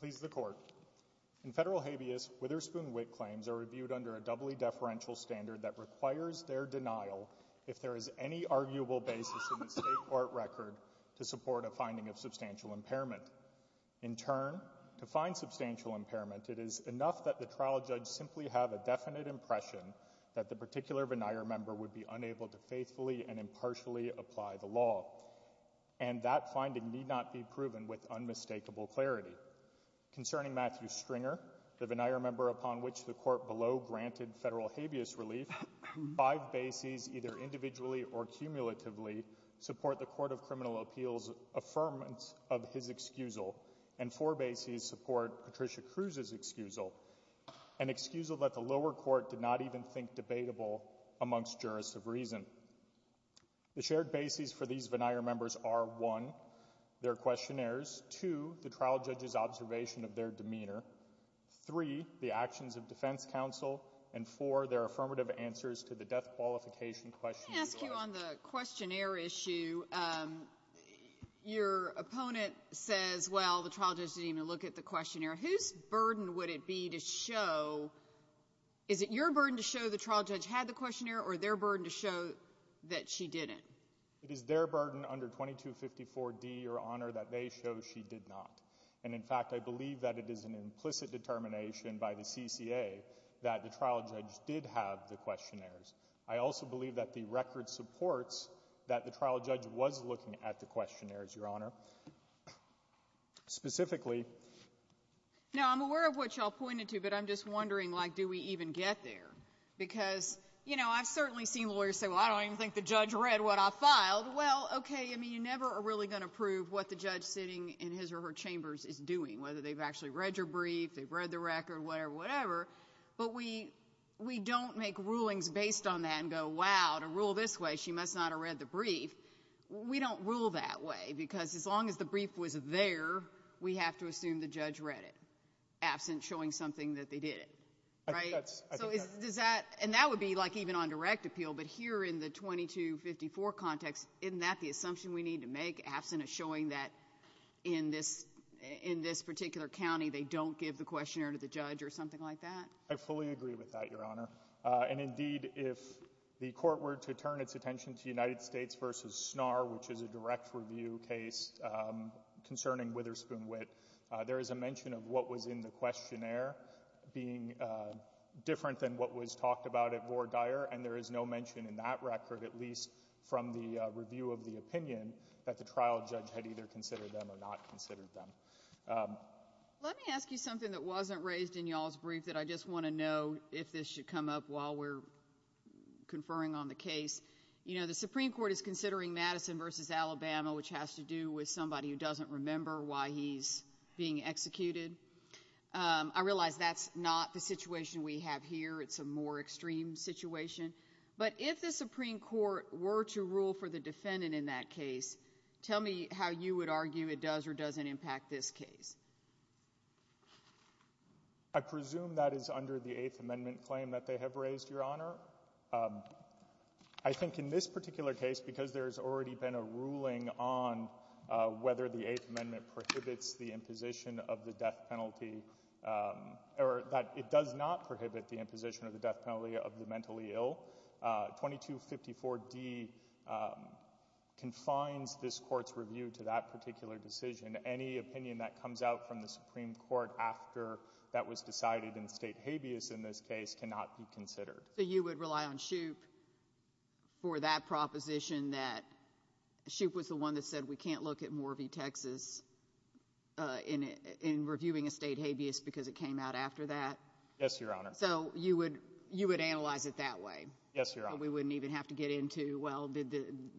Please the court. In federal habeas, Witherspoon Witt claims are reviewed under a doubly deferential standard that requires their denial if there is any arguable basis in the state court record to support a finding of substantial impairment. In turn, to find substantial impairment, it is enough that the trial judge simply have a definite impression that the particular and that finding need not be proven with unmistakable clarity. Concerning Matthew Stringer, the veneer member upon which the court below granted federal habeas relief, five bases either individually or cumulatively support the Court of Criminal Appeals' affirmance of his excusal, and four bases support Patricia Cruz's excusal, an excusal that the lower court did not even think debatable amongst jurists of reason. The shared bases for these veneer members are, one, their questionnaires, two, the trial judge's observation of their demeanor, three, the actions of defense counsel, and four, their affirmative answers to the death qualification question. Let me ask you on the questionnaire issue. Your opponent says, well, the trial judge didn't even look at the questionnaire. Whose burden would it be to show, is it your burden to show the trial judge had the questionnaire or their burden to show that she didn't? It is their burden under 2254 D, Your Honor, that they show she did not. And in fact, I believe that it is an implicit determination by the CCA that the trial judge did have the questionnaires. I also believe that the record supports that the trial judge was looking at the questionnaires, Your Honor. Specifically. Now, I'm aware of what y'all pointed to, but I'm just wondering, like, do we even get there? Because, you know, I've certainly seen lawyers say, well, I don't even think the judge read what I filed. Well, okay, I mean, you never are really going to prove what the judge sitting in his or her chambers is doing, whether they've actually read your brief, they've read the record, whatever, whatever. But we don't make rulings based on that and go, wow, to rule this way, she must not have read the brief. We don't rule that way, because as long as the brief was there, we have to assume the judge read it, absent showing something that they didn't. Right? So does that, and that would be, like, on direct appeal, but here in the 2254 context, isn't that the assumption we need to make, absent of showing that in this particular county, they don't give the questionnaire to the judge or something like that? I fully agree with that, Your Honor. And indeed, if the Court were to turn its attention to United States v. Snar, which is a direct review case concerning Witherspoon Witt, there is a mention of what was in the questionnaire being different than what was there, and there is no mention in that record, at least from the review of the opinion, that the trial judge had either considered them or not considered them. Let me ask you something that wasn't raised in y'all's brief that I just want to know if this should come up while we're conferring on the case. You know, the Supreme Court is considering Madison v. Alabama, which has to do with somebody who doesn't remember why he's being executed. I realize that's not the situation we have here. It's a more extreme situation. But if the Supreme Court were to rule for the defendant in that case, tell me how you would argue it does or doesn't impact this case. I presume that is under the Eighth Amendment claim that they have raised, Your Honor. I think in this particular case, because there's already been a ruling on whether the Eighth Amendment would have the imposition of the death penalty of the mentally ill, 2254d confines this court's review to that particular decision. Any opinion that comes out from the Supreme Court after that was decided in state habeas in this case cannot be considered. So you would rely on Shoup for that proposition that Shoup was the one that said we can't look at Morvie, Texas in reviewing a state habeas because it came out after that? Yes, Your Honor. So you would analyze it that way? Yes, Your Honor. We wouldn't even have to get into, well,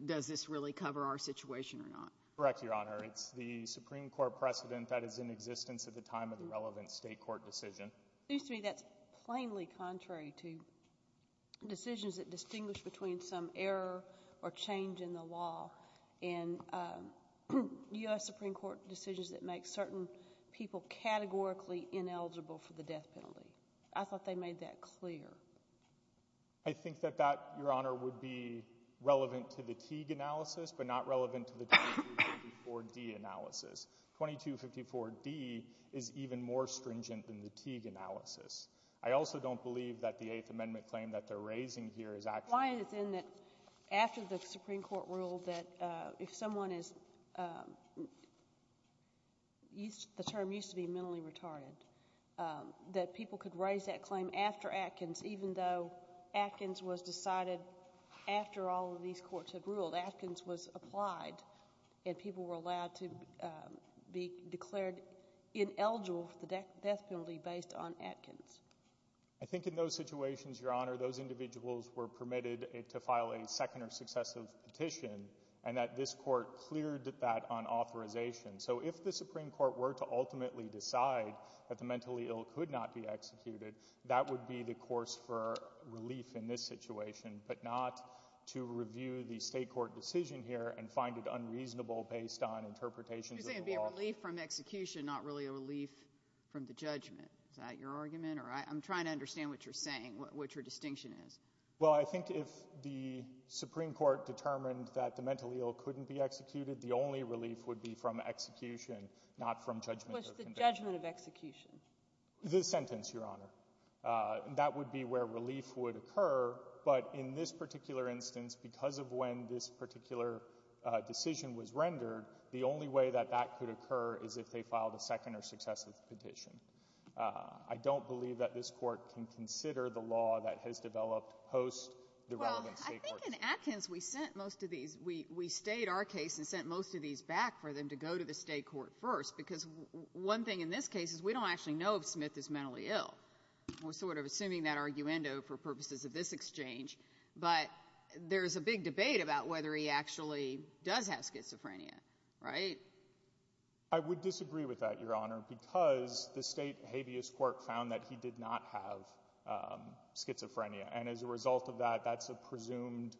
does this really cover our situation or not? Correct, Your Honor. It's the Supreme Court precedent that is in existence at the time of the relevant state court decision. It seems to me that's plainly contrary to decisions that distinguish between some error or change in the law and U.S. Supreme Court decisions that make certain people categorically ineligible for the death penalty. I thought they made that clear. I think that that, Your Honor, would be relevant to the Teague analysis, but not relevant to the 2254d analysis. 2254d is even more stringent than the Teague analysis. I also don't believe that the Eighth Amendment claim that they're raising here is actually true. Why is it that after the Supreme Court ruled that if someone is, the term used to be mentally retarded, that people could raise that claim after Atkins, even though Atkins was decided after all of these courts had ruled. Atkins was applied and people were allowed to be declared ineligible for the death penalty based on Atkins. I think in those situations, Your Honor, those individuals were permitted to file a second or successive petition and that this court cleared that on authorization. So if the Supreme Court were to ultimately decide that the mentally ill could not be executed, that would be the course for relief in this situation, but not to review the state court decision here and find it unreasonable based on interpretations of the law. You're saying it'd be a relief from execution, not really a relief from the judgment. Is that your argument? Or I'm trying to understand what you're saying, what your distinction is. Well, I think if the Supreme Court determined that the mentally ill couldn't be executed, the only relief would be from execution, not from judgment. What's the judgment of execution? The sentence, Your Honor. That would be where relief would occur, but in this particular instance, because of when this particular decision was rendered, the only way that that could occur is if they filed a second or successive petition. I don't believe that this court can consider the law that has developed post the relevant state court decision. Well, I think in Atkins, we sent most of these, we stayed our case and sent most of these back for them to go to the state court first, because one thing in this case is we don't actually know if Smith is mentally ill. We're sort of assuming that arguendo for purposes of this exchange, but there's a big debate about whether he actually does have schizophrenia, right? I would disagree with that, Your Honor, because the state habeas court found that he did not have schizophrenia, and as a result of that, that's a presumed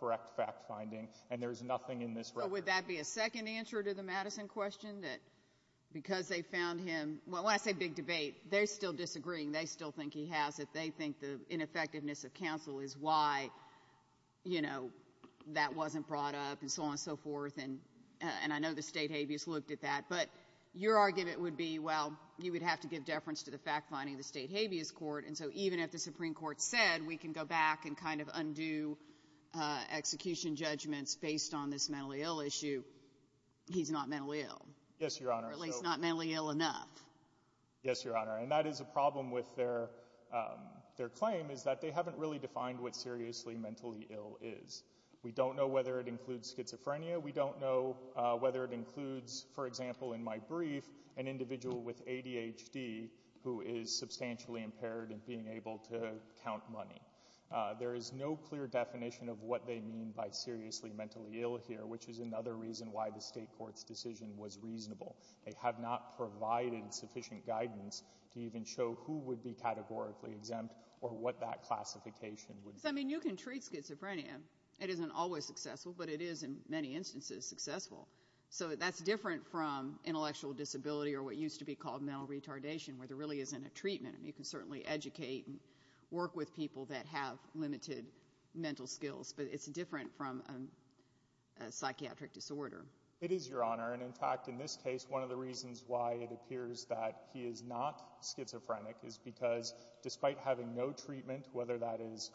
correct fact finding, and there's nothing in this record. Would that be a second answer to the Madison question? That because they found him, well, when I say big debate, they're still disagreeing. They still think he has it. They think the ineffectiveness of counsel is why, you know, that wasn't brought up and so on and so forth, and I know the state habeas looked at that, but your argument would be, well, you would have to give deference to the fact finding of the state habeas court, and so even if the Supreme Court said we can go back and kind of undo execution judgments based on this mentally ill issue, he's not mentally ill. Yes, Your Honor. Or at least not mentally ill enough. Yes, Your Honor, and that is a problem with their claim, is that they haven't really defined what seriously mentally ill is. We don't know whether it includes schizophrenia. We don't know whether it includes, for example, in my brief, an individual with ADHD who is substantially impaired and being able to count money. There is no clear definition of what they mean by seriously mentally ill here, which is another reason why the state court's decision was reasonable. They have not provided sufficient guidance to even show who would be categorically exempt or what that classification would be. I mean, you can treat schizophrenia. It isn't always successful, but it is in many instances successful, so that's different from intellectual disability or what used to be called mental retardation, where there really isn't a treatment. You can certainly educate and work with people that have limited mental skills, but it's different from a psychiatric disorder. It is, Your Honor, and in fact, in this case, one of the reasons why it appears that he is not schizophrenic is because despite having no treatment, whether that is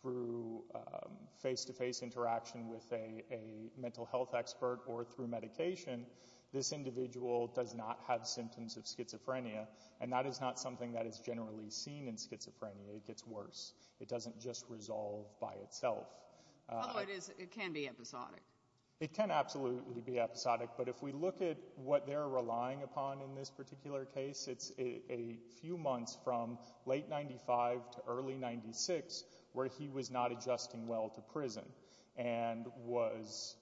through face-to-face interaction with a mental health expert or through medication, this individual does not have symptoms of schizophrenia, and that is not something that is generally seen in schizophrenia. It gets worse. It doesn't just resolve by itself. Although it can be episodic. It can absolutely be episodic, but if we look at what they're relying upon in this particular case, it's a few months from late 95 to early 96 where he was not adjusting well to prison and was,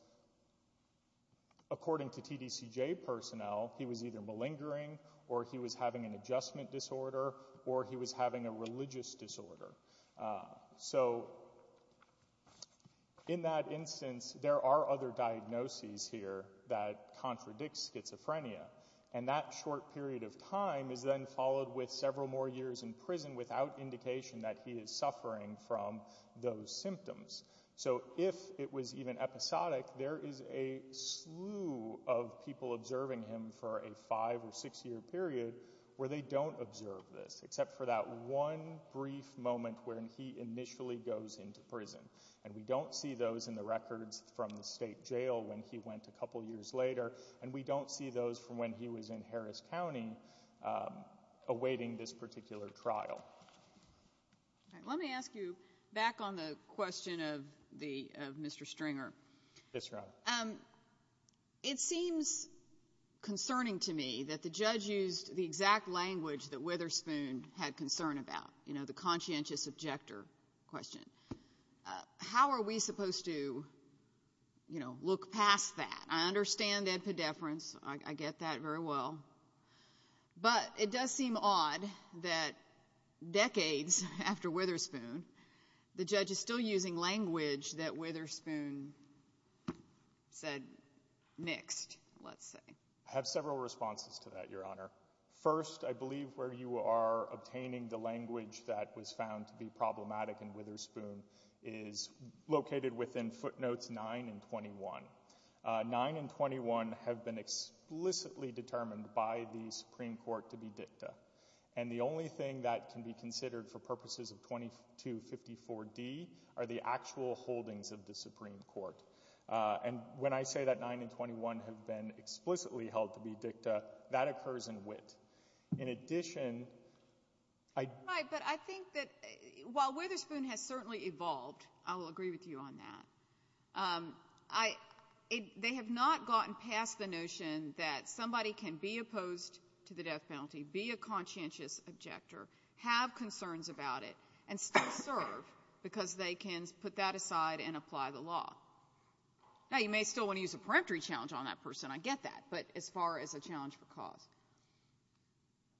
according to TDCJ personnel, he was either malingering or he was having an adjustment disorder or he was having a religious disorder. So, in that instance, there are other diagnoses here that contradict schizophrenia, and that short period of time is then followed with several more years in prison without indication that he is suffering from those symptoms. So, if it was even episodic, there is a slew of people observing him for a five or six-year period where they don't observe this, except for that one brief moment when he initially goes into prison, and we don't see those in the records from the state jail when he went a couple years later, and we don't see those from when he was in Harris County awaiting this particular trial. All right. Let me ask you back on the question of Mr. Stringer. Yes, Your Honor. It seems concerning to me that the judge used the exact language that Witherspoon had concern about, you know, the conscientious objector question. How are we supposed to, you know, look past that? I understand that pedeference. I get that very well, but it does seem odd that decades after Witherspoon, the judge is still using language that Witherspoon said mixed, let's say. I have several responses to that, Your Honor. First, I believe where you are obtaining the language that was found to be problematic in Witherspoon is located within footnotes 9 and 21. 9 and 21 have been explicitly determined by the Supreme Court to be dicta, and the only thing that can be considered for purposes of 2254d are the actual holdings of the Supreme Court, and when I say that 9 and 21 have been explicitly held to be dicta, that occurs in wit. In addition, I... Right, but I think that while Witherspoon has certainly evolved, I will agree with you on that, um, I, they have not gotten past the notion that somebody can be opposed to the death penalty, be a conscientious objector, have concerns about it, and still serve because they can put that aside and apply the law. Now, you may still want to use a peremptory challenge on that person, I get that, but as far as a challenge for cause.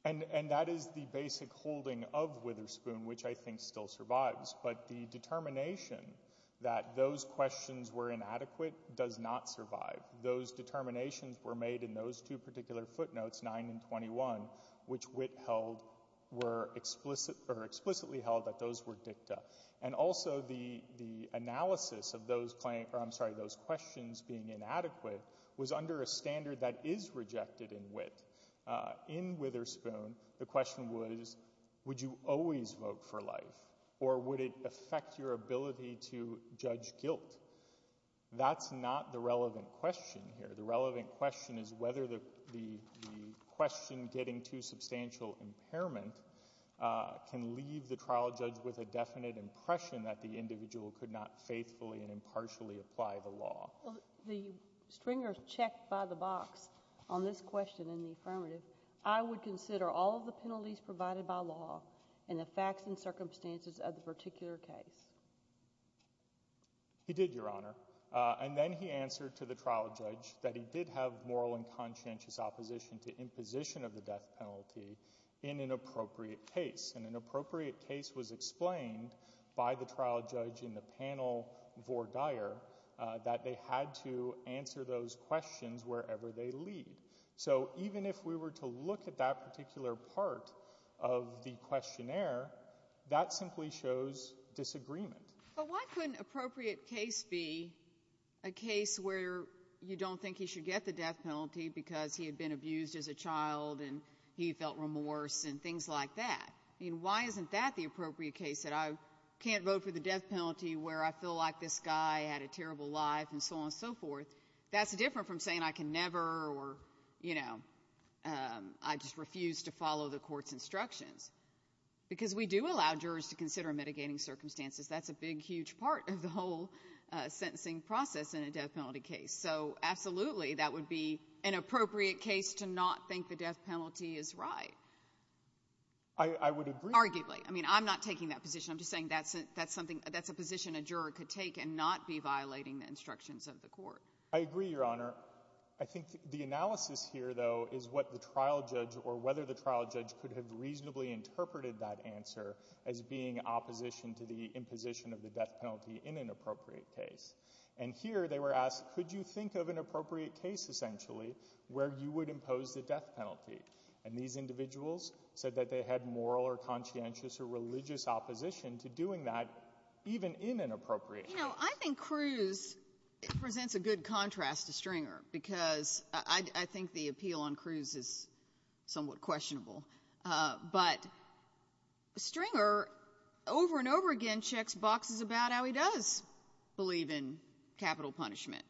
And that is the basic holding of Witherspoon, which I think still survives, but the determination that those questions were inadequate does not survive. Those determinations were made in those two particular footnotes, 9 and 21, which wit held were explicit, or explicitly held that those were dicta, and also the, the analysis of those claims, or I'm sorry, those questions being inadequate was under a standard that is rejected in wit. Uh, in Witherspoon, the question was, would you always vote for life, or would it affect your ability to judge guilt? That's not the relevant question here. The relevant question is whether the, the question getting too substantial impairment, uh, can leave the trial judge with a definite impression that the individual could not faithfully and impartially apply the law. Well, the stringer's checked by the box on this question in the affirmative. I would consider all of the penalties provided by law and the facts and circumstances of the particular case. He did, Your Honor. Uh, and then he answered to the trial judge that he did have moral and conscientious opposition to imposition of the death penalty in an appropriate case, and an appropriate case was explained by the trial judge in the panel vor dire, uh, that they had to answer those questions wherever they lead. So even if we were to look at that particular part of the questionnaire, that simply shows disagreement. But why couldn't appropriate case be a case where you don't think he should get the death penalty because he had been abused as a child, and he felt remorse, and things like that? I mean, why isn't that the appropriate case that I can't vote for the death penalty where I feel like this guy had a terrible life and so on and so forth? That's different from saying I can never or, you know, um, I just refuse to follow the court's instructions. Because we do allow jurors to consider mitigating circumstances. That's a big, huge part of the whole, uh, sentencing process in a death penalty case. So absolutely, that would be an appropriate case to not think the death I mean, I'm not taking that position. I'm just saying that's, that's something that's a position a juror could take and not be violating the instructions of the court. I agree, Your Honor. I think the analysis here, though, is what the trial judge or whether the trial judge could have reasonably interpreted that answer as being opposition to the imposition of the death penalty in an appropriate case. And here they were asked, could you think of an appropriate case essentially where you would impose the death penalty? And these individuals said that they had moral or conscientious or religious opposition to doing that even in an appropriate case. You know, I think Cruz presents a good contrast to Stringer because I, I think the appeal on Cruz is somewhat questionable. Uh, but Stringer over and over again checks boxes about how he does believe in capital punishment.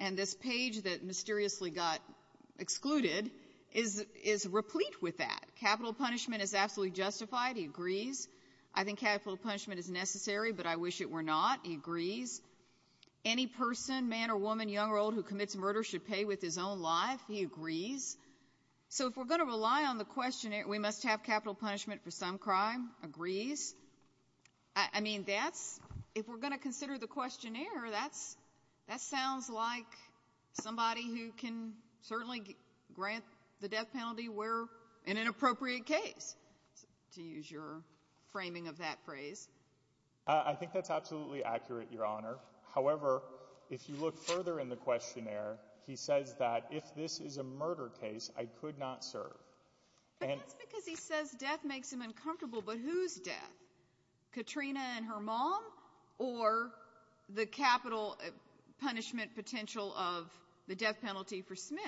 And this page that mysteriously got excluded is, is replete with that. Capital punishment is absolutely justified. He agrees. I think capital punishment is necessary, but I wish it were not. He agrees. Any person, man or woman, young or old, who commits murder should pay with his own life. He agrees. So if we're going to rely on the questionnaire, we must have capital punishment for some crime. Agrees. I mean, that's, if we're going to consider the questionnaire, that's, that sounds like somebody who can certainly grant the death penalty where, in an appropriate case, to use your framing of that phrase. Uh, I think that's absolutely accurate, Your Honor. However, if you look further in the questionnaire, he says that if this is a murder case, I could not serve. But that's because he says death makes him uncomfortable. But who's death? Katrina and the death penalty for Smith.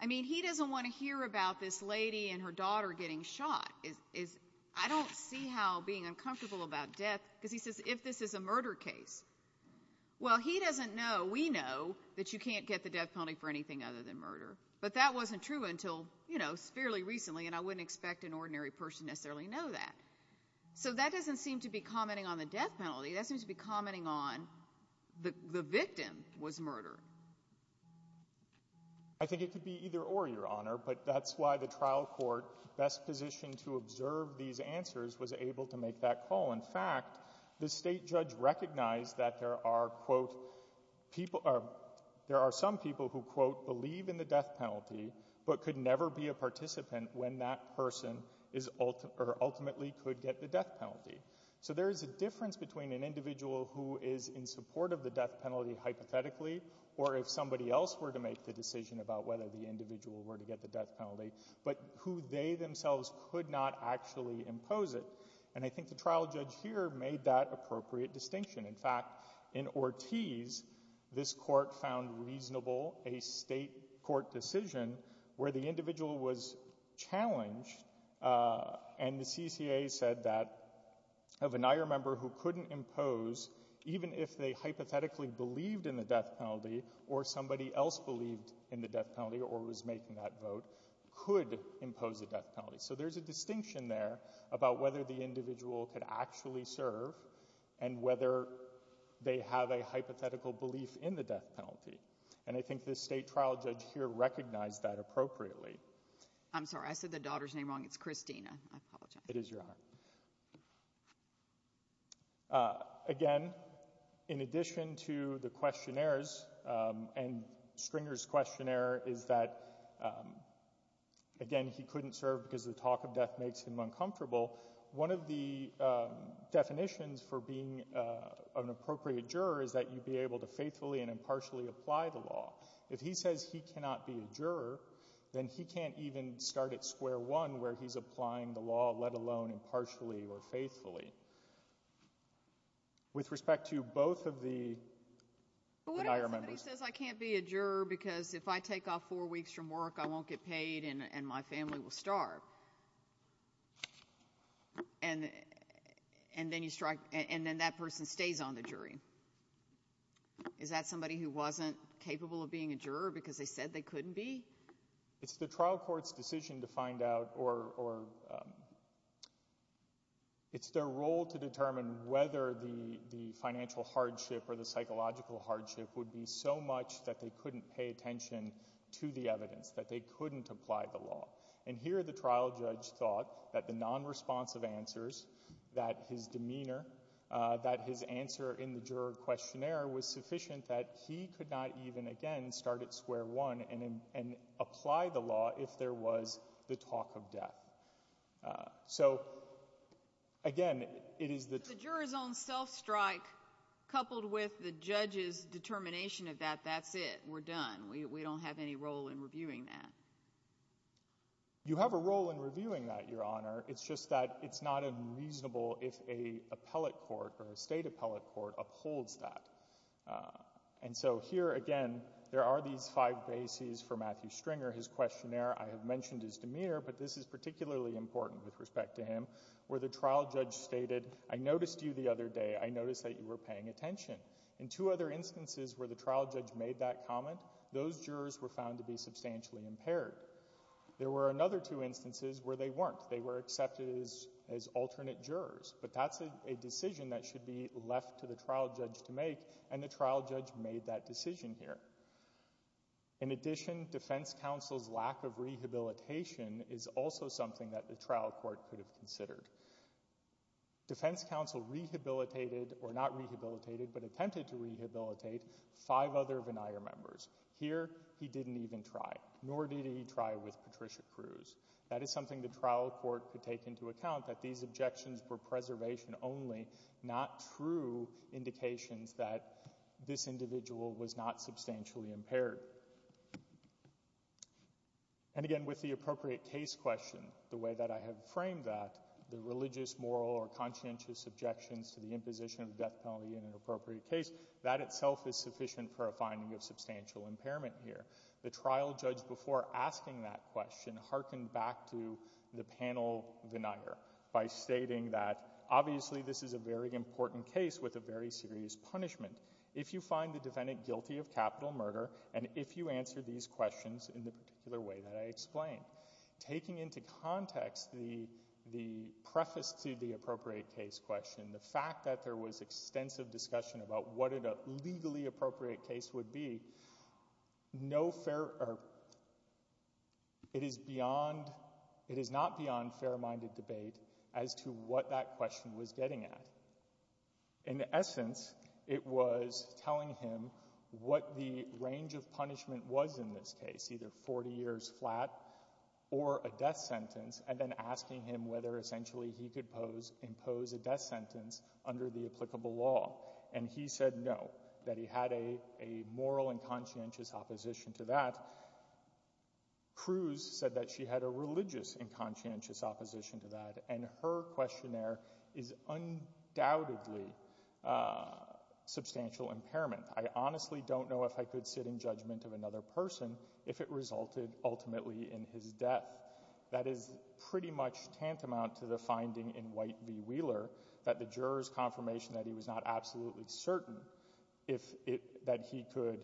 I mean, he doesn't want to hear about this lady and her daughter getting shot. I don't see how being uncomfortable about death, because he says if this is a murder case. Well, he doesn't know. We know that you can't get the death penalty for anything other than murder. But that wasn't true until, you know, fairly recently. And I wouldn't expect an ordinary person necessarily know that. So that doesn't seem to be commenting on the death penalty. I think it could be either or, Your Honor. But that's why the trial court, best positioned to observe these answers, was able to make that call. In fact, the state judge recognized that there are, quote, people, there are some people who, quote, believe in the death penalty, but could never be a participant when that person is, or ultimately could get the death penalty. So there is a difference between an individual who is in of the death penalty hypothetically, or if somebody else were to make the decision about whether the individual were to get the death penalty, but who they themselves could not actually impose it. And I think the trial judge here made that appropriate distinction. In fact, in Ortiz, this court found reasonable a state court decision where the individual was challenged, uh, and the CCA said that of an IR member who couldn't impose, even if they hypothetically believed in the death penalty, or somebody else believed in the death penalty, or was making that vote, could impose a death penalty. So there's a distinction there about whether the individual could actually serve, and whether they have a hypothetical belief in the death penalty. And I think this state trial judge here recognized that appropriately. I'm sorry. I said the daughter's name wrong. It's Christina. I apologize. It is your honor. Uh, again, in addition to the questionnaires, um, and Stringer's questionnaire is that, um, again, he couldn't serve because the talk of death makes him uncomfortable. One of the, um, definitions for being, uh, an appropriate juror is that you'd be able to faithfully and impartially apply the law. If he says he cannot be a juror, then he can't even start at square one where he's applying the law, let alone impartially or faithfully. With respect to both of the IR members. Somebody says I can't be a juror because if I take off four weeks from work, I won't get paid, and my family will starve. And then you strike, and then that person stays on the jury. Is that somebody who wasn't capable of being a juror because they said they couldn't be? It's the trial court's decision to find out or, or, um, it's their role to determine whether the, the financial hardship or the psychological hardship would be so much that they couldn't pay attention to the evidence, that they couldn't apply the law. And here the trial judge thought that the non-responsive answers, that his demeanor, uh, that his answer in the juror questionnaire was sufficient that he could not even, again, start at square one and, and apply the law if there was the talk of death. Uh, so again, it is the... The juror's own self-strike coupled with the judge's determination of that, that's it. We're done. We, we don't have any role in reviewing that. You have a role in reviewing that, Your Honor. It's just that it's not unreasonable if a appellate court or a state appellate court upholds that. Uh, and so here again, there are these five bases for Matthew Stringer. His questionnaire, I have mentioned his demeanor, but this is particularly important with respect to him, where the trial judge stated, I noticed you the other day, I noticed that you were paying attention. In two other instances where the trial judge made that comment, those jurors were found to be substantially impaired. There were another two instances where they weren't. They were accepted as, as alternate jurors, but that's a decision that should be left to the trial judge to make, and the trial judge made that decision here. In addition, defense counsel's lack of rehabilitation is also something that the trial court could have considered. Defense counsel rehabilitated, or not rehabilitated, but attempted to rehabilitate, five other Venire members. Here, he didn't even try, nor did he try with Patricia Cruz. That is something the trial court could take into account, that these objections were preservation only, not true indications that this individual was not substantially impaired. And again, with the appropriate case question, the way that I have framed that, the religious, moral, or conscientious objections to the imposition of death penalty in an appropriate case, that itself is sufficient for a finding of substantial impairment here. The trial judge, before asking that question, hearkened back to the panel Venire by stating that, obviously, this is a very important case with a very serious punishment. If you find the defendant guilty of capital murder, and if you answer these questions in the particular way that I explained. Taking into context the, the preface to the appropriate case question, the fact that there was extensive discussion about what a legally appropriate case would be, no fair, or it is beyond, it is not beyond fair-minded debate as to what that question was getting at. In essence, it was telling him what the range of punishment was in this case, either 40 years flat or a death sentence, and then asking him whether essentially he could pose, impose a death sentence under the applicable law, and he said no, that he had a, a moral and conscientious opposition to that. Cruz said that she had a religious and conscientious opposition to that, and her questionnaire is undoubtedly substantial impairment. I honestly don't know if I could sit in judgment of another person if it resulted ultimately in his death. That is pretty much tantamount to the finding in V. Wheeler that the juror's confirmation that he was not absolutely certain if it, that he could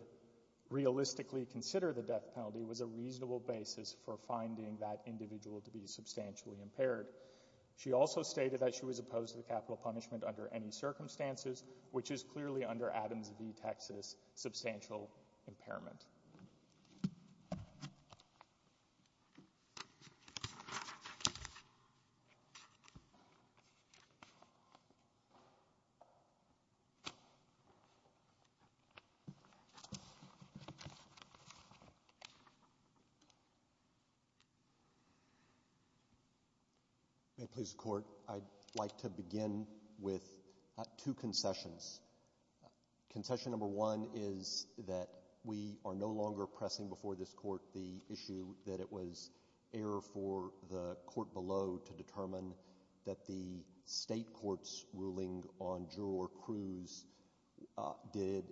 realistically consider the death penalty was a reasonable basis for finding that individual to be substantially impaired. She also stated that she was opposed to the capital punishment under any circumstances, which is clearly under Adams v. Texas, substantial impairment. May it please the Court, I'd like to begin with two concessions. Concession number one is that we are no longer pressing before this Court the issue that it was error for the Court below to determine that the State Court's ruling on juror Cruz did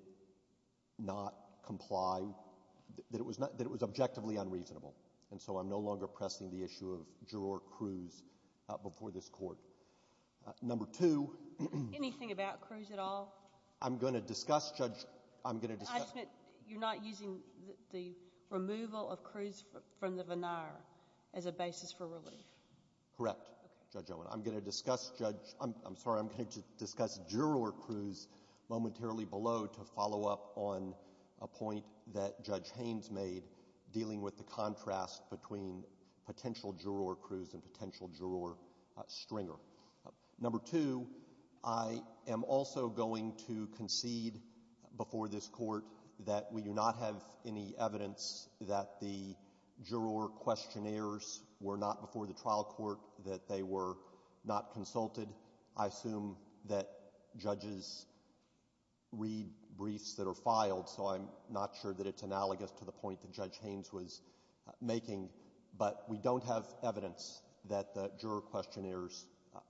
not comply, that it was not, that it was objectively unreasonable, and so I'm no longer pressing the issue of juror Cruz before this Court. Number two. Anything about Cruz at all? I'm going to discuss, Judge, I'm going to discuss. You're not using the removal of Cruz from the venire as a basis for relief? Correct, Judge Owen. I'm going to discuss, Judge, I'm sorry, I'm going to discuss juror Cruz momentarily below to follow up on a point that Judge Haynes made dealing with the contrast between potential juror Cruz and number two, I am also going to concede before this Court that we do not have any evidence that the juror questionnaires were not before the trial court, that they were not consulted. I assume that judges read briefs that are filed, so I'm not sure that it's analogous to the point that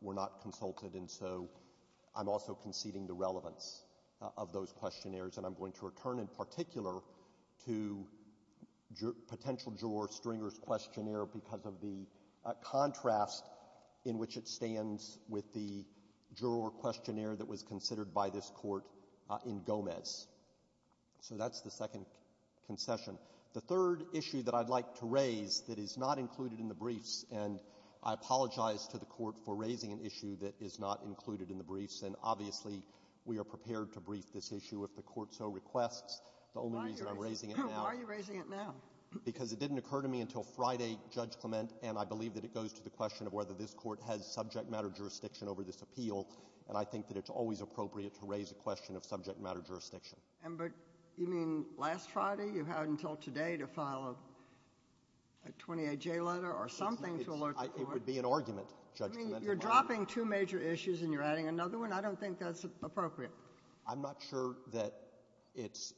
were not consulted, and so I'm also conceding the relevance of those questionnaires, and I'm going to return in particular to potential juror Stringer's questionnaire because of the contrast in which it stands with the juror questionnaire that was considered by this Court in Gomez. So that's the second concession. The third issue that I'd like to raise that is not included in the briefs, and I apologize to the Court for raising an issue that is not included in the briefs, and obviously, we are prepared to brief this issue if the Court so requests. The only reason I'm raising it now — Why are you raising it now? Because it didn't occur to me until Friday, Judge Clement, and I believe that it goes to the question of whether this Court has subject matter jurisdiction over this appeal, and I think that it's always appropriate to raise a question of subject matter jurisdiction. But you mean last Friday? You have until today to file a 28J letter or something to alert the Court? It would be an argument, Judge Clement. You're dropping two major issues, and you're adding another one? I don't think that's appropriate. I'm not sure that it's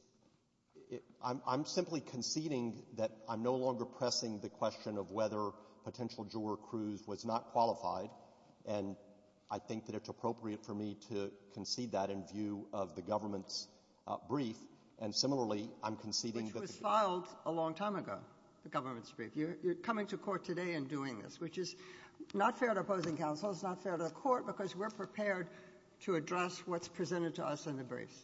— I'm simply conceding that I'm no longer pressing the question of whether potential juror Cruz was not qualified, and I think that it's appropriate for me to concede that in view of the government's brief. And similarly, I'm conceding that the — Which was filed a long time ago, the government's brief. You're coming to court today and doing this, which is not fair to opposing counsel. It's not fair to the Court because we're prepared to address what's presented to us in the briefs.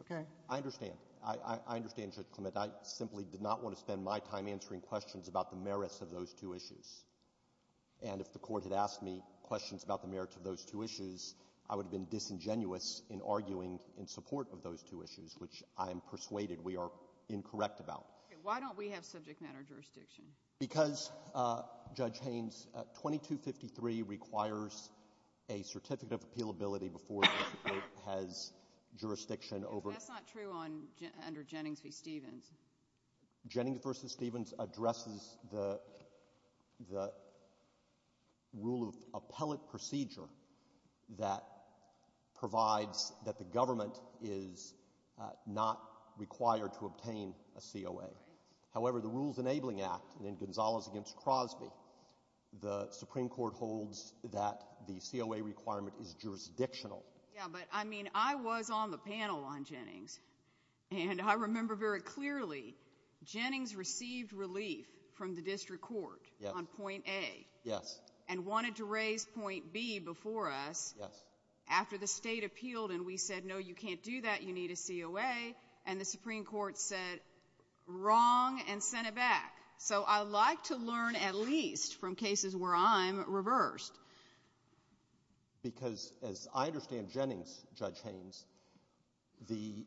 Okay? I understand. I understand, Judge Clement. I simply did not want to spend my time answering questions about the merits of those two issues. And if the Court had asked me questions about the merits of those two issues, I would have been disingenuous in arguing in support of those two issues, which I am persuaded we are incorrect about. Okay. Why don't we have subject matter jurisdiction? Because, Judge Haynes, 2253 requires a certificate of appealability before the Court has jurisdiction over — That's not true on — under Jennings v. Stevens. That provides that the government is not required to obtain a COA. However, the Rules Enabling Act, and then Gonzalez v. Crosby, the Supreme Court holds that the COA requirement is jurisdictional. Yeah, but, I mean, I was on the panel on Jennings, and I remember very clearly Jennings received relief from the District Court on point A. Yes. And wanted to raise point B before us — Yes. — after the State appealed, and we said, no, you can't do that, you need a COA. And the Supreme Court said, wrong, and sent it back. So I like to learn at least from cases where I'm reversed. Because, as I understand Jennings, Judge Haynes, the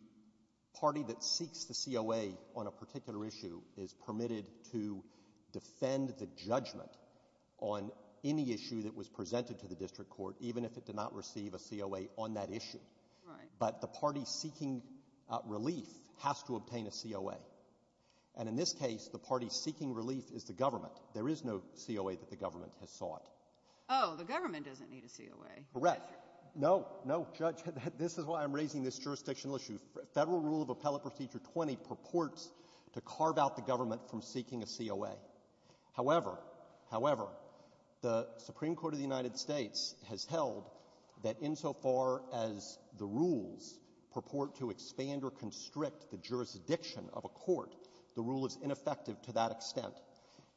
party that seeks the COA on a particular issue is permitted to defend the judgment on any issue that was presented to the District Court, even if it did not receive a COA on that issue. Right. But the party seeking relief has to obtain a COA. And in this case, the party seeking relief is the government. There is no COA that the government has sought. Oh, the government doesn't need a COA. Correct. No, no, Judge, this is why I'm raising this jurisdictional issue. Federal Rule of Appellate Procedure 20 purports to carve out the government from seeking a COA. However, however, the Supreme Court of the United States has held that insofar as the rules purport to expand or constrict the jurisdiction of a court, the rule is ineffective to that extent.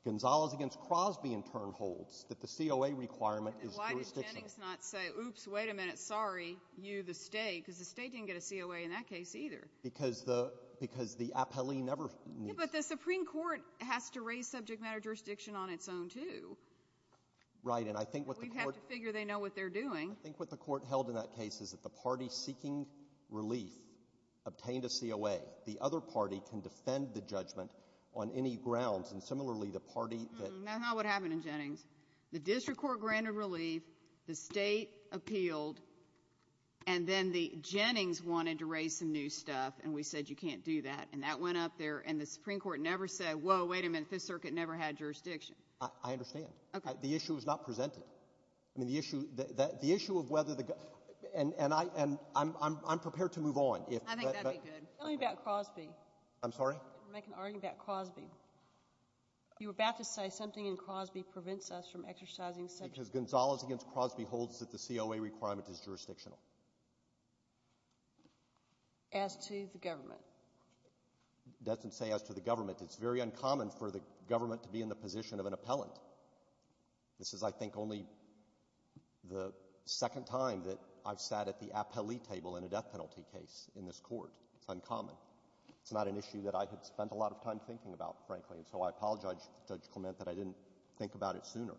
Gonzales against Crosby, in turn, holds that the COA requirement is jurisdictional. Why does Jennings not say, oops, wait a minute, sorry, you, the State, because the State didn't get a COA in that case either. Because the — because the appellee never needs — But the Supreme Court has to raise subject matter jurisdiction on its own, too. Right, and I think what the court — We have to figure they know what they're doing. I think what the court held in that case is that the party seeking relief obtained a COA. The other party can defend the judgment on any grounds. And similarly, the party that — That's not what happened in Jennings. The district court granted relief. The State appealed. And then the Jennings wanted to raise some new stuff, and we said, you can't do that. And that went up there, and the Supreme Court never said, whoa, wait a minute, this circuit never had jurisdiction. I understand. The issue is not presented. I mean, the issue — the issue of whether the — and I'm prepared to move on. I think that'd be good. Tell me about Crosby. I'm sorry? You're making an argument about Crosby. You were about to say something in Crosby prevents us from exercising subject matter — Because Gonzales against Crosby holds that the COA requirement is jurisdictional. As to the government? Doesn't say as to the government. It's very uncommon for the government to be in the position of an appellant. This is, I think, only the second time that I've sat at the appellee table in a death penalty case in this court. It's uncommon. It's not an issue that I had spent a lot of time thinking about, frankly, and so I apologize to Judge Clement that I didn't think about it sooner.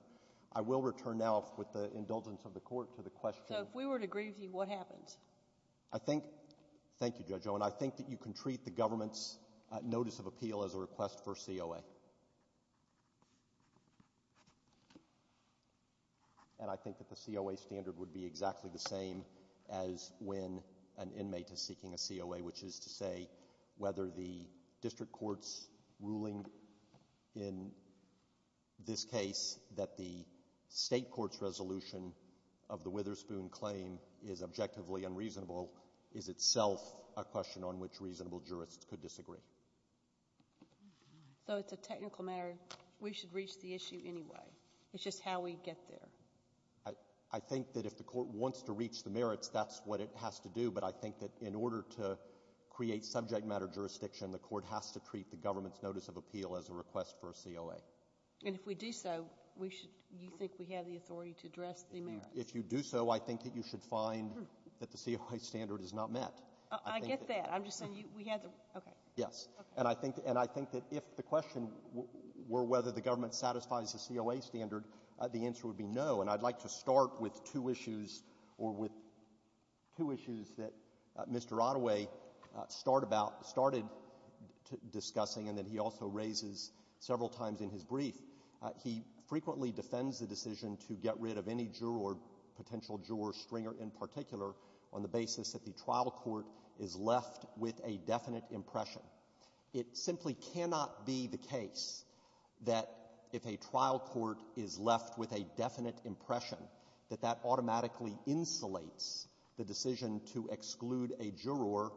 I will return now, with the indulgence of the Court, to the question — So, if we were to agree with you, what happens? I think — thank you, Judge Owen — I think that you can treat the government's notice of appeal as a request for COA. And I think that the COA standard would be exactly the same as when an inmate is seeking a COA, which is to say whether the district court's ruling in this case that the state court's resolution of the Witherspoon claim is objectively unreasonable is itself a question on which reasonable jurists could disagree. So, it's a technical matter. We should reach the issue anyway. It's just how we get there. I think that if the Court wants to reach the merits, that's what it has to do, but I think that in order to create subject matter jurisdiction, the Court has to treat the government's notice of appeal as a request for a COA. And if we do so, we should — you think we have the authority to address the merits? If you do so, I think that you should find that the COA standard is not met. I get that. I'm just saying we have the — okay. Yes. And I think that if the question were whether the government satisfies the COA standard, the answer would be no. And I'd like to start with two issues — or with two issues that Mr. Ottaway started discussing and that he also raises several times in his brief. He frequently defends the decision to get rid of any juror, potential juror, stringer in particular, on the basis that the trial court is left with a definite impression. It simply cannot be the case that if a trial court is left with a definite impression, that that automatically insulates the decision to exclude a juror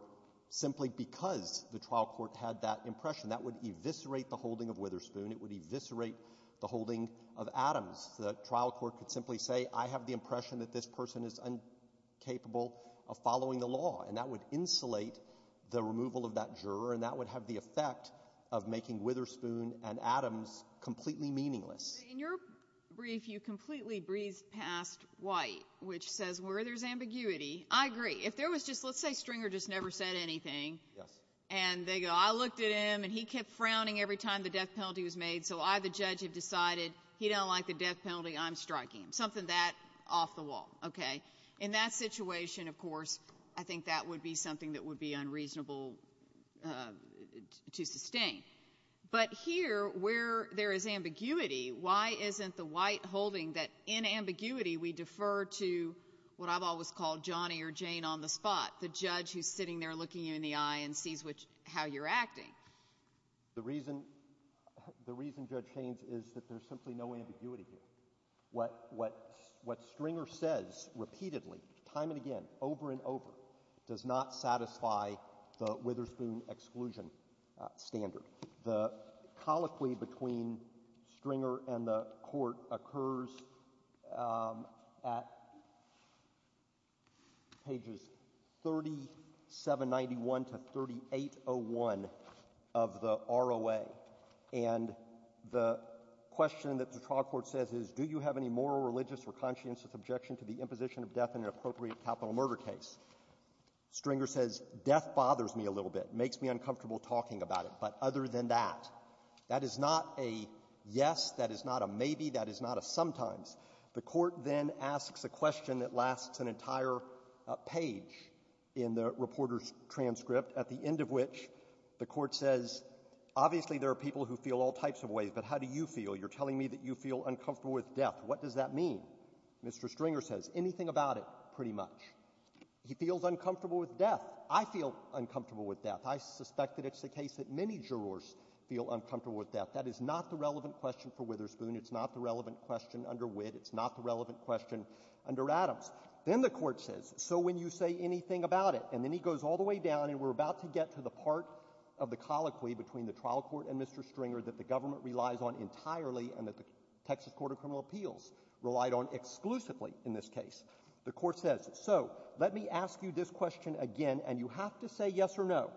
simply because the trial court had that impression. That would eviscerate the holding of Witherspoon. It would eviscerate the holding of Adams. The trial court could simply say, I have the impression that this person is incapable of following the law. And that would insulate the removal of that juror, and that would have the effect of making Witherspoon and Adams completely meaningless. In your brief, you completely breezed past White, which says where there's ambiguity. I agree. If there was just — let's say Stringer just never said anything. Yes. And they go, I looked at him, and he kept frowning every time the death penalty was made, so I, the judge, have decided he don't like the death penalty. I'm striking him. Something that off the wall. Okay? In that situation, of course, I think that would be something that would be unreasonable to sustain. But here, where there is ambiguity, why isn't the White holding that in ambiguity we defer to what I've always called Johnny or Jane on the spot, the judge who's sitting there looking you in the eye and sees which — how you're acting? The reason — the reason, Judge Haynes, is that there's simply no ambiguity here. What — what Stringer says repeatedly, time and again, over and over, does not satisfy the Witherspoon exclusion standard. The colloquy between Stringer and the Court occurs at pages 3791 to 3801 of the ROA. And the question that the trial court says is, do you have any moral, religious, or conscientious objection to the imposition of death in an appropriate capital murder case? Stringer says, death bothers me a little bit. It makes me uncomfortable talking about it. But other than that, that is not a yes, that is not a maybe, that is not a sometimes. The Court then asks a question that lasts an entire page in the reporter's transcript, at the end of which the Court says, obviously, there are people who feel all types of ways, but how do you feel? You're telling me that you feel uncomfortable with death. What does that mean? Mr. Stringer says, anything about it, pretty much. He feels uncomfortable with death. I feel uncomfortable with death. I suspect that it's the case that many jurors feel uncomfortable with death. That is not the relevant question for Witherspoon. It's not the relevant question under Witt. It's not the relevant question under Adams. Then the Court says, so when you say anything about it, and then he goes all the way down, and we're about to get to the part of the colloquy between the trial court and Mr. Stringer that the government relies on entirely and that the Texas Court of Criminal Appeals relied on exclusively in this case. The Court says, so let me ask you this question again, and you have to say yes or no.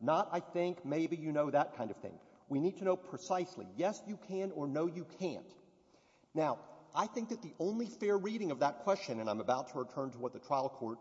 Not, I think, maybe you know that kind of thing. We need to know precisely, yes, you can or no, you can't. Now, I think that the only fair reading of that question, and I'm about to return to what the trial court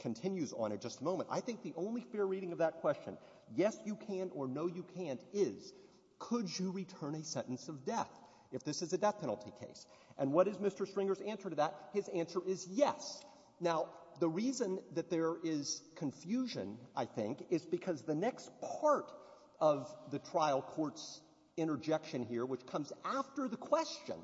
continues on in just a moment, I think the only fair reading of that question, yes, you can or no, you can't, is could you return a sentence of death if this is a death penalty case? And what is Mr. Stringer's answer to that? His answer is yes. Now, the reason that there is confusion, I think, is because the next part of the trial court's interjection here, which comes after the question,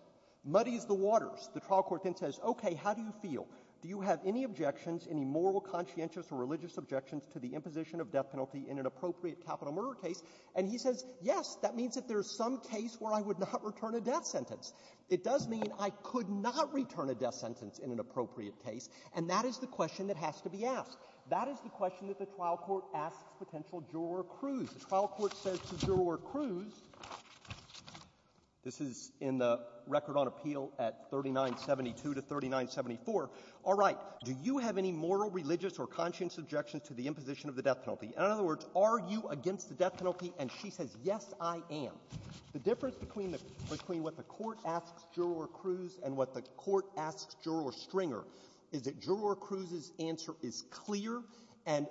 muddies the waters. The trial court then says, okay, how do you feel? Do you have any objections, any moral, conscientious, or religious objections to the imposition of death penalty in an appropriate capital murder case? And he says, yes, that means that there's some case where I would not return a death sentence. It does mean I could not return a death sentence in an appropriate case, and that is the question that has to be asked. That is the question that the trial court asks potential juror Cruz. The trial court says to juror Cruz, this is in the record on appeal at 3972 to 3974, all right, do you have any moral, religious, or conscientious objections to the imposition of the death penalty? In other words, are you against the death penalty? And she says, yes, I am. The difference between the — between what the Court asks juror Cruz and what the Court asks juror Stringer is that juror Cruz's answer is clear, and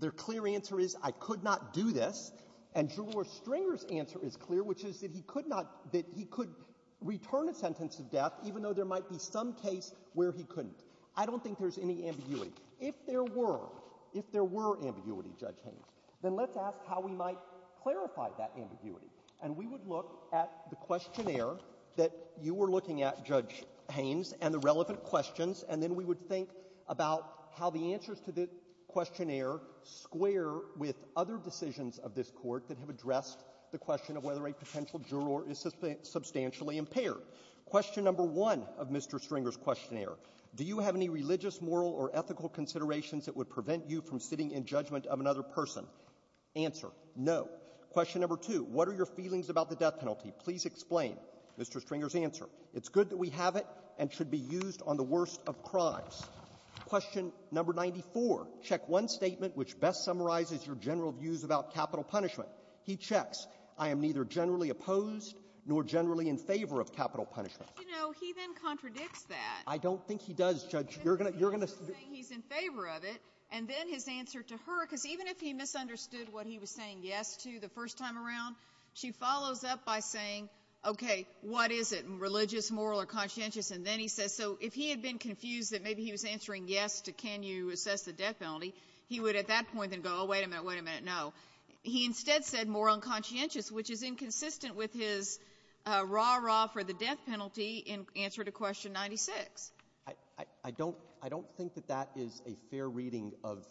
their clear answer is, I could not do this, and juror Stringer's answer is clear, which is that he could not — that he could return a sentence of death, even though there might be some case where he couldn't. I don't think there's any ambiguity. If there were — if there were ambiguity, Judge Haynes, then let's ask how we might clarify that ambiguity. And we would look at the questionnaire that you were looking at, Judge Haynes, and the relevant questions, and then we would think about how the answers to the questionnaire square with other decisions of this Court that have addressed the question of whether a potential juror is substantially impaired. Question number one of Mr. Stringer's questionnaire, do you have any religious, moral, or ethical considerations that would prevent you from sitting in judgment of another person? Answer, no. Question number two, what are your feelings about the death penalty? Please explain, Mr. Stringer's answer. It's good that we have it and should be used on the worst of crimes. Question number 94. Check one statement which best summarizes your general views about capital punishment. He checks. I am neither generally opposed nor generally in favor of capital punishment. You know, he then contradicts that. I don't think he does, Judge. You're going to — you're going to — He's saying he's in favor of it. And then his answer to her, because even if he misunderstood what he was saying yes to the first time around, she follows up by saying, okay, what is it, religious, moral, or conscientious, and then he says — so if he had been confused that maybe he was answering yes to can you assess the death penalty, he would at that point then go, oh, wait a minute, wait a minute, no. He instead said moral and conscientious, which is inconsistent with his rah-rah for the death penalty in answer to question 96. I don't — I don't think that that is a fair reading of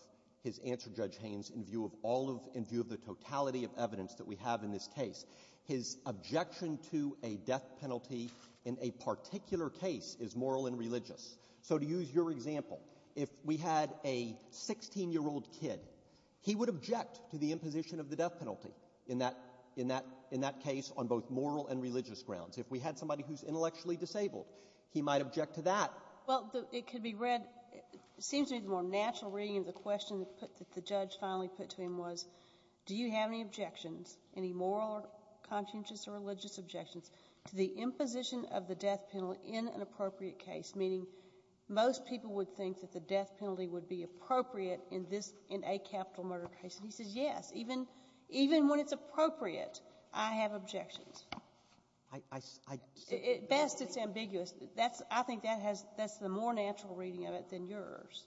his answer, Judge Haynes, in view of all of — in view of the totality of evidence that we have in this case. His objection to a death penalty in a particular case is moral and religious. So to use your example, if we had a 16-year-old kid, he would object to the imposition of the death penalty in that — in that case on both moral and religious grounds. If we had somebody who's intellectually disabled, he might object to that. Well, it could be read — it seems to me the more natural reading of the question that the judge finally put to him was, do you have any objections, any moral or conscientious or religious objections, to the imposition of the death penalty in an appropriate case, meaning most people would think that the death penalty would be appropriate in this — in a capital murder case. And he says, yes, even — even when it's appropriate, I have objections. I — I — Best, it's ambiguous. That's — I think that has — that's the more natural reading of it than yours.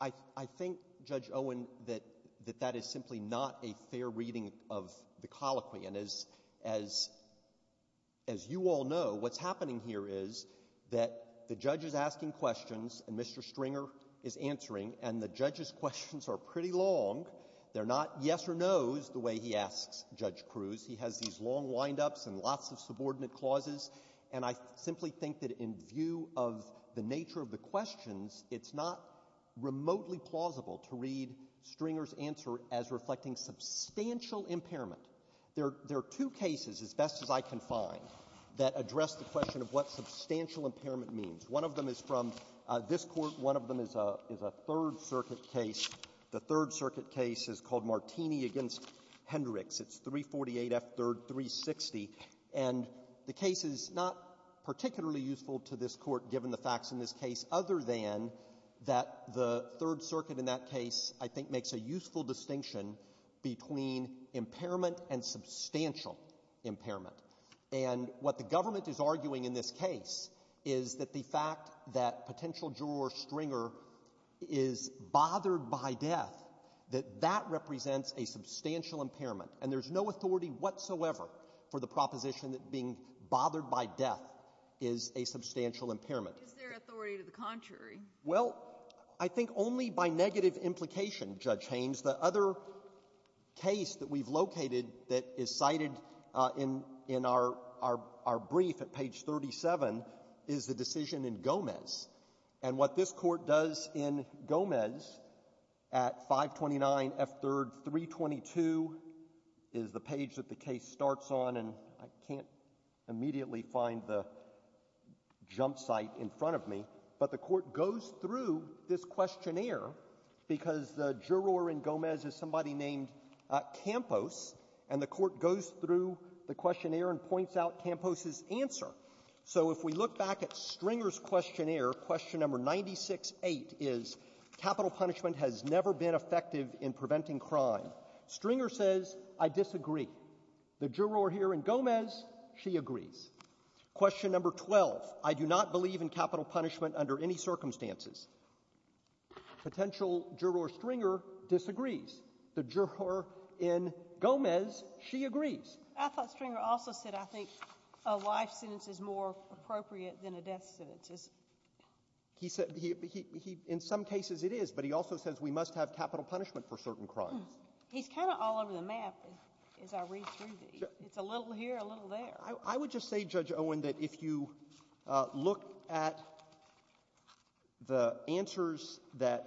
I — I think, Judge Owen, that — that that is simply not a fair reading of the colloquy. And as — as — as you all know, what's happening here is that the judge is asking questions, and Mr. Stringer is answering, and the judge's questions are pretty long. They're not yes or no's the way he asks Judge Cruz. He has these long wind-ups and lots of subordinate clauses. And I simply think that in view of the nature of the questions, it's not remotely plausible to read Stringer's answer as reflecting substantial impairment. There are two cases, as best as I can find, that address the question of what substantial impairment means. One of them is from this Court. One of them is a — is a Third Circuit case. The Third Circuit case is called Martini v. Hendricks. It's 348 F. 3rd, 360. And the case is not particularly useful to this Court, given the facts in this case, other than that the Third Circuit in that case, I think, makes a useful distinction between impairment and substantial impairment. And what the government is arguing in this case is that the fact that potential juror Stringer is bothered by death, that that represents a substantial impairment. And there's no authority whatsoever for the proposition that being bothered by death is a substantial impairment. Is there authority to the contrary? Well, I think only by negative implication, Judge Haynes. The other case that we've located that is cited in — in our — our — our brief at page 37 is the decision in Gomez. And what this Court does in Gomez at 529 F. 3rd, 322 is the page that the case starts on, and I can't immediately find the jump site in front of me, but the Court goes through this questionnaire, because the juror in Gomez is somebody named Campos, and the Court goes through the questionnaire and points out Campos's answer. So if we look back at Stringer's questionnaire, question number 96-8 is, capital punishment has never been effective in preventing crime. Stringer says, I disagree. The juror here in Gomez, she agrees. Question number 12, I do not believe in capital punishment under any circumstances. Potential juror Stringer disagrees. The juror in Gomez, she agrees. I thought Stringer also said, I think, a life sentence is more appropriate than a death sentence. He said — he — he — in some cases, it is, but he also says we must have capital punishment for certain crimes. He's kind of all over the map as I read through these. It's a little here, a little there. I would just say, Judge Owen, that if you look at the answers that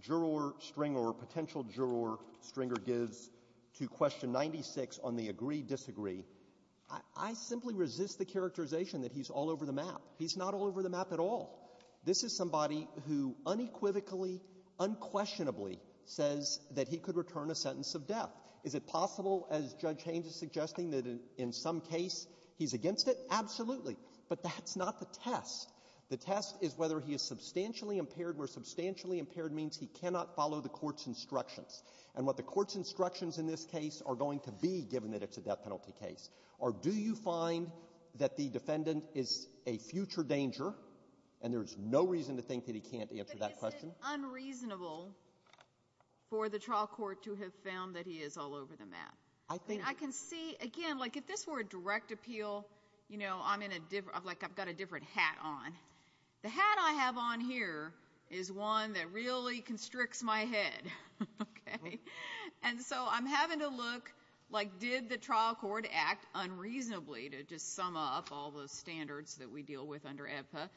juror Stringer or potential juror Stringer gives to question 96 on the agree-disagree, I — I simply resist the characterization that he's all over the map. He's not all over the map at all. This is somebody who unequivocally, unquestionably says that he could return a sentence of death. Is it possible, as Judge Haynes is suggesting, that in — in some case, he's against it? Absolutely. But that's not the test. The test is whether he is substantially impaired, where substantially impaired means he cannot follow the court's instructions. And what the court's instructions in this case are going to be, given that it's a death penalty case, are do you find that the defendant is a future danger, and there is no reason to think that he can't answer that question? But is it unreasonable for the trial court to have found that he is all over the map? I think — I mean, I can see — again, like, if this were a direct appeal, you know, I'm in a different — like, I've got a different hat on. The hat I have on here is one that really constricts my head, okay? And so I'm having to look, like, did the trial court act unreasonably, to just sum up all those standards that we deal with under EBPA?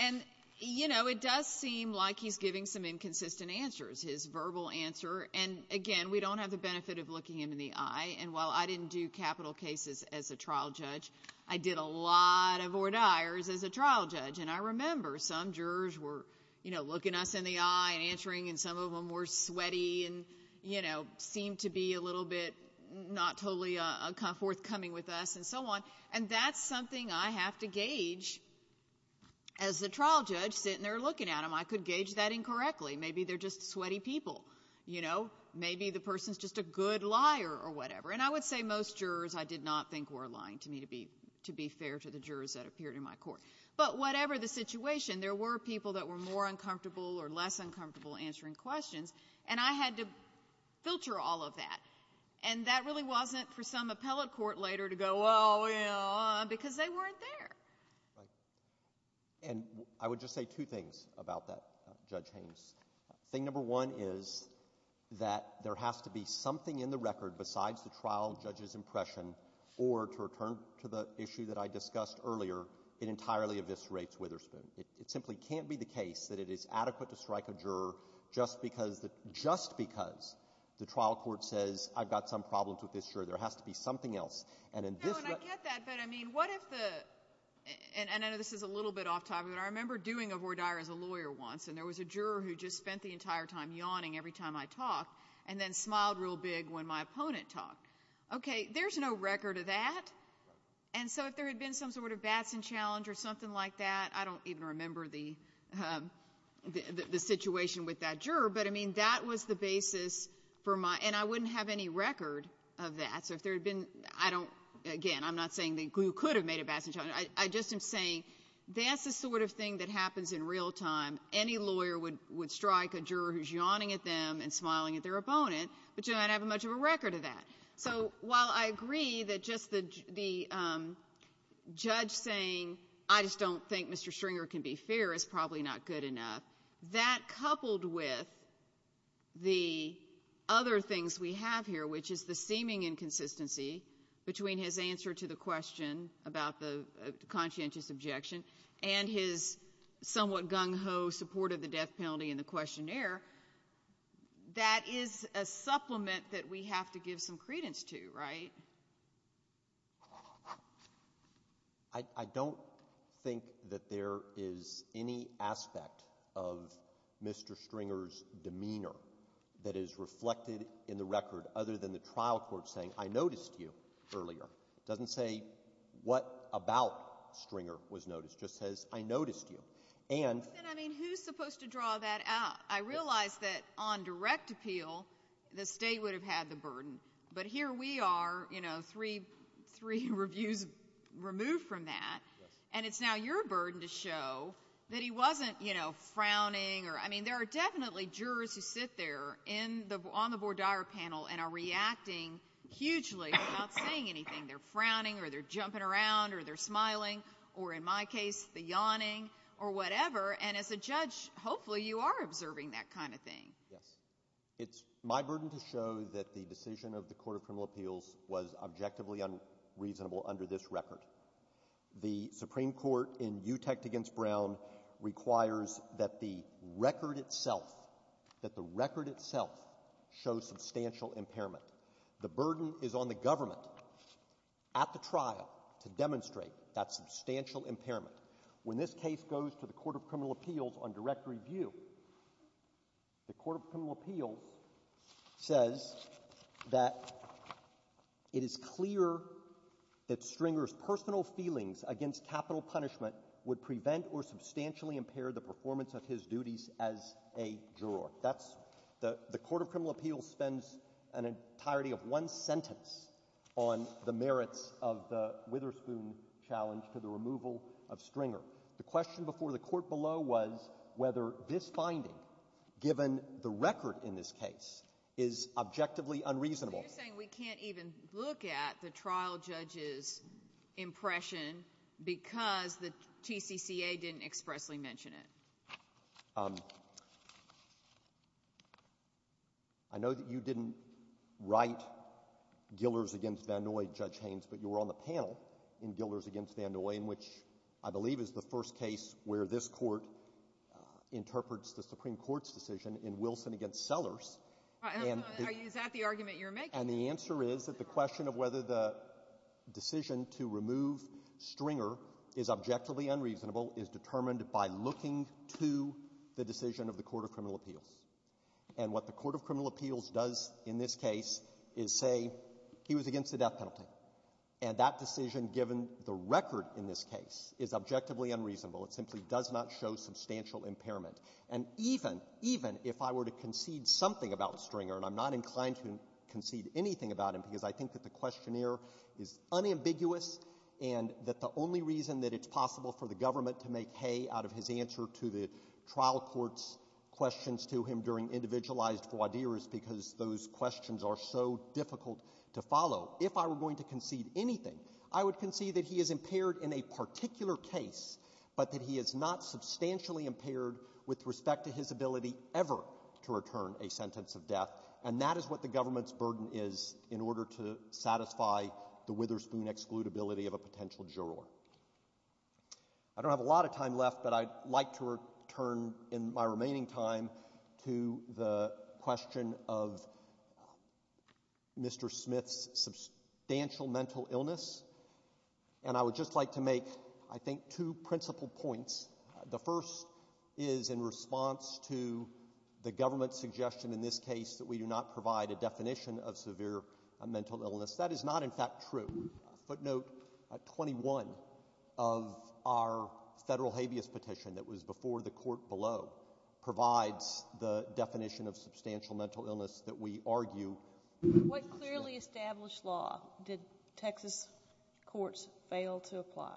And you know, it does seem like he's giving some inconsistent answers, his verbal answer. And again, we don't have the benefit of looking him in the eye. And while I didn't do capital cases as a trial judge, I did a lot of ordires as a trial judge. And I remember some jurors were, you know, looking us in the eye and answering, and some of them were sweaty and, you know, seemed to be a little bit not totally forthcoming with us and so on. And that's something I have to gauge. As the trial judge sitting there looking at him, I could gauge that incorrectly. Maybe they're just sweaty people, you know? Maybe the person's just a good liar or whatever. And I would say most jurors I did not think were lying to me, to be fair to the jurors that appeared in my court. But whatever the situation, there were people that were more uncomfortable or less uncomfortable answering questions, and I had to filter all of that. And that really wasn't for some appellate court later to go, well, you know, because they weren't there. Right. And I would just say two things about that, Judge Haynes. Thing number one is that there has to be something in the record besides the trial judge's entirely eviscerates Witherspoon. It simply can't be the case that it is adequate to strike a juror just because the trial court says I've got some problems with this juror. There has to be something else. And in this regard — No, and I get that, but I mean, what if the — and I know this is a little bit off topic, but I remember doing a voir dire as a lawyer once, and there was a juror who just spent the entire time yawning every time I talked and then smiled real big when my opponent talked. Okay. There's no record of that. And so if there had been some sort of Batson challenge or something like that, I don't even remember the situation with that juror, but, I mean, that was the basis for my — and I wouldn't have any record of that. So if there had been — I don't — again, I'm not saying that you could have made a Batson challenge. I just am saying that's the sort of thing that happens in real time. Any lawyer would strike a juror who's yawning at them and smiling at their opponent, but you don't have much of a record of that. So while I agree that just the judge saying, I just don't think Mr. Stringer can be fair is probably not good enough, that coupled with the other things we have here, which is the seeming inconsistency between his answer to the question about the conscientious objection and his somewhat gung-ho support of the death penalty in the questionnaire, that is a supplement that we have to give some credence to, right? I don't think that there is any aspect of Mr. Stringer's demeanor that is reflected in the record other than the trial court saying, I noticed you earlier. It doesn't say what about Stringer was noticed. It just says, I noticed you. And — But then, I mean, who's supposed to draw that out? I realize that on direct appeal, the state would have had the burden. But here we are, you know, three reviews removed from that. And it's now your burden to show that he wasn't, you know, frowning or — I mean, there are definitely jurors who sit there on the voir dire panel and are reacting hugely without saying anything. They're frowning or they're jumping around or they're smiling or, in my case, the yawning or whatever. And as a judge, hopefully you are observing that kind of thing. Yes. It's my burden to show that the decision of the Court of Criminal Appeals was objectively unreasonable under this record. The Supreme Court in Utecht v. Brown requires that the record itself — that the record itself show substantial impairment. The burden is on the government at the trial to demonstrate that substantial impairment. When this case goes to the Court of Criminal Appeals on direct review, the Court of Criminal Appeals says that it is clear that Stringer's personal feelings against capital punishment would prevent or substantially impair the performance of his duties as a juror. That's — the Court of Criminal Appeals spends an entirety of one sentence on the merits of the Witherspoon challenge to the removal of Stringer. The question before the court below was whether this finding, given the record in this case, is objectively unreasonable. So you're saying we can't even look at the trial judge's impression because the TCCA didn't expressly mention it? I know that you didn't write Gillers v. Van Noye, Judge Haynes, but you were on the panel in Gillers v. Van Noye, in which I believe is the first case where this court interprets the Supreme Court's decision in Wilson v. Sellers. And — All right. Is that the argument you're making? And the answer is that the question of whether the decision to remove Stringer is objectively unreasonable is determined by looking to the decision of the Court of Criminal Appeals. And what the Court of Criminal Appeals does in this case is say he was against the death penalty. And that decision, given the record in this case, is objectively unreasonable. It simply does not show substantial impairment. And even — even if I were to concede something about Stringer, and I'm not inclined to concede anything about him because I think that the questionnaire is unambiguous and that the only reason that it's possible for the government to make hay out of his answer to the trial court's questions to him during individualized voir dire is because those questions are so difficult to follow. If I were going to concede anything, I would concede that he is impaired in a particular case, but that he is not substantially impaired with respect to his ability ever to return a sentence of death. And that is what the government's burden is in order to satisfy the Witherspoon excludability of a potential juror. I don't have a lot of time left, but I'd like to return in my remaining time to the question of Mr. Smith's substantial mental illness. And I would just like to make, I think, a couple of points. The first is in response to the government's suggestion in this case that we do not provide a definition of severe mental illness. That is not, in fact, true. A footnote, 21 of our federal habeas petition that was before the court below provides the definition of substantial mental illness that we argue. What clearly established law did Texas courts fail to apply?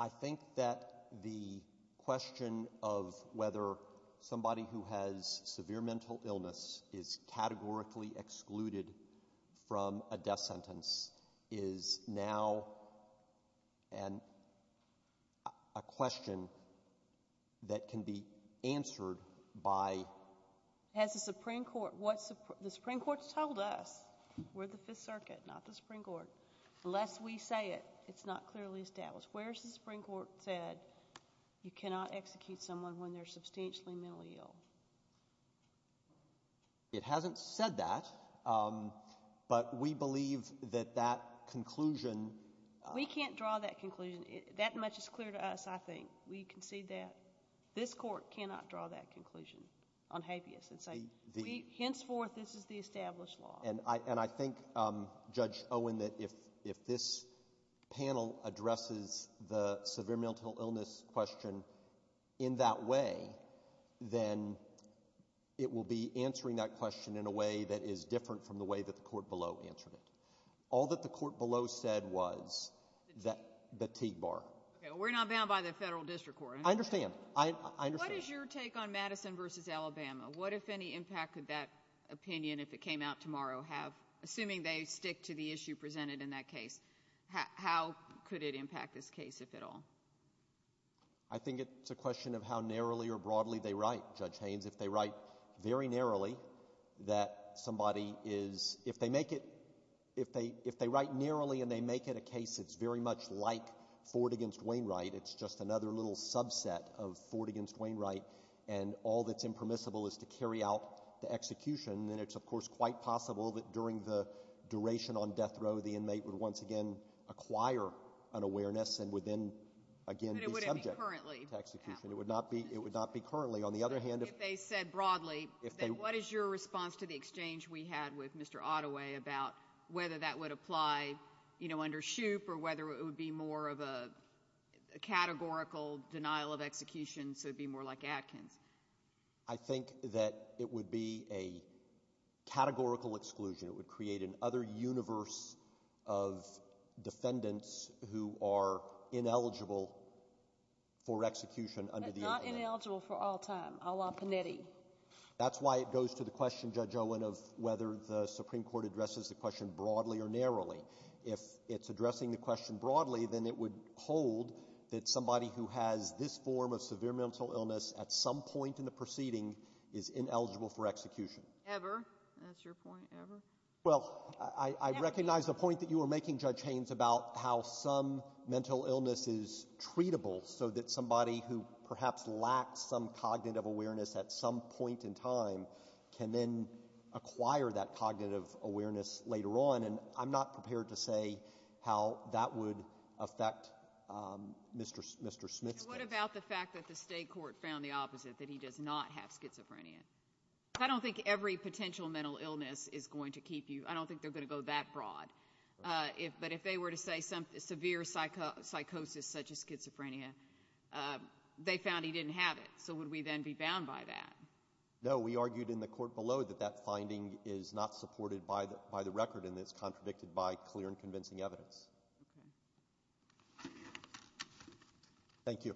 I think that the question of whether somebody who has severe mental illness is categorically excluded from a death sentence is now a question that can be answered by... Has the Supreme Court, what the Supreme Court's told us, we're the Fifth Circuit, not the Supreme Court, but the Supreme Court said you cannot execute someone when they're substantially mentally ill. It hasn't said that, but we believe that that conclusion... We can't draw that conclusion. That much is clear to us, I think. We concede that. This court cannot draw that conclusion on habeas. Henceforth, this is the established law. I think, Judge Owen, that if this panel addresses the severe mental illness question in that way, then it will be answering that question in a way that is different from the way that the court below answered it. All that the court below said was the TIG bar. We're not bound by the federal district court. I understand. What is your take on Madison v. Alabama? What, if any, impact could that opinion, if it came out tomorrow, have, assuming they stick to the issue presented in that case, how could it impact this case, if at all? I think it's a question of how narrowly or broadly they write, Judge Haynes. If they write very narrowly, that somebody is... If they make it... If they write narrowly and they make it a case that's very much like Ford v. Wainwright, it's just another little subset of Ford v. Wainwright, and all that's impermissible is to carry out the execution, and it's, of course, quite possible that during the duration on death row, the inmate would once again acquire an awareness and would then again be subject to execution. But it wouldn't be currently, at least. It would not be currently. On the other hand, if... If they said broadly, then what is your response to the exchange we had with Mr. Ottaway about whether that would apply, you know, under Shoup or whether it would be more of a categorical denial of execution, so it would be more like Atkins? I think that it would be a categorical exclusion. It would create an other universe of defendants who are ineligible for execution under the agreement. But not ineligible for all time, a la Panetti. That's why it goes to the question, Judge Owen, of whether the Supreme Court addresses the question broadly or narrowly. If it's addressing the question broadly, then it would hold that somebody who has this form of severe mental illness at some point in the proceeding is ineligible for execution. Ever. That's your point. Ever. Well, I recognize the point that you were making, Judge Haynes, about how some mental illness is treatable so that somebody who perhaps lacks some cognitive awareness at some point in time can then acquire that cognitive awareness later on, and I'm not prepared to say how that would affect Mr. Smith's case. What about the fact that the State court found the opposite, that he does not have schizophrenia? I don't think every potential mental illness is going to keep you. I don't think they're going to go that broad. But if they were to say severe psychosis such as schizophrenia, they found he didn't have it, so would we then be bound by that? No. We argued in the court below that that finding is not supported by the record and it's contradicted by clear and convincing evidence. Thank you.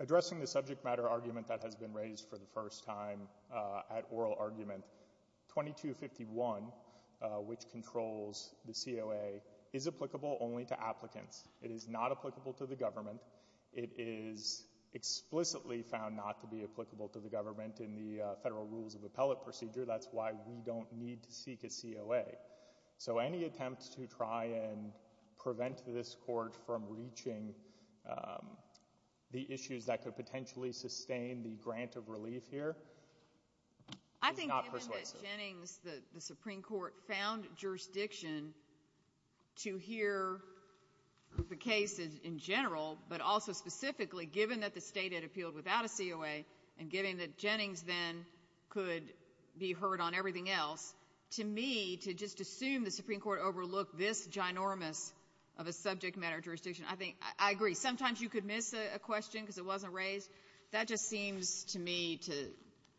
Addressing the subject matter argument that has been raised for the first time at oral argument, 2251, which controls the COA, is applicable only to applicants. It is not applicable to the government. It is explicitly found not to be applicable to the government in the Federal Rules of Appellate procedure. That's why we don't need to seek a COA. So any attempt to try and prevent this court from reaching the issues that could potentially sustain the grant of relief here is not persuasive. I think given that Jennings, the Supreme Court, found jurisdiction to hear the case in general, but also specifically given that the State had appealed without a COA and given that the Supreme Court overlooked this ginormous of a subject matter jurisdiction, I think I agree. Sometimes you could miss a question because it wasn't raised. That just seems to me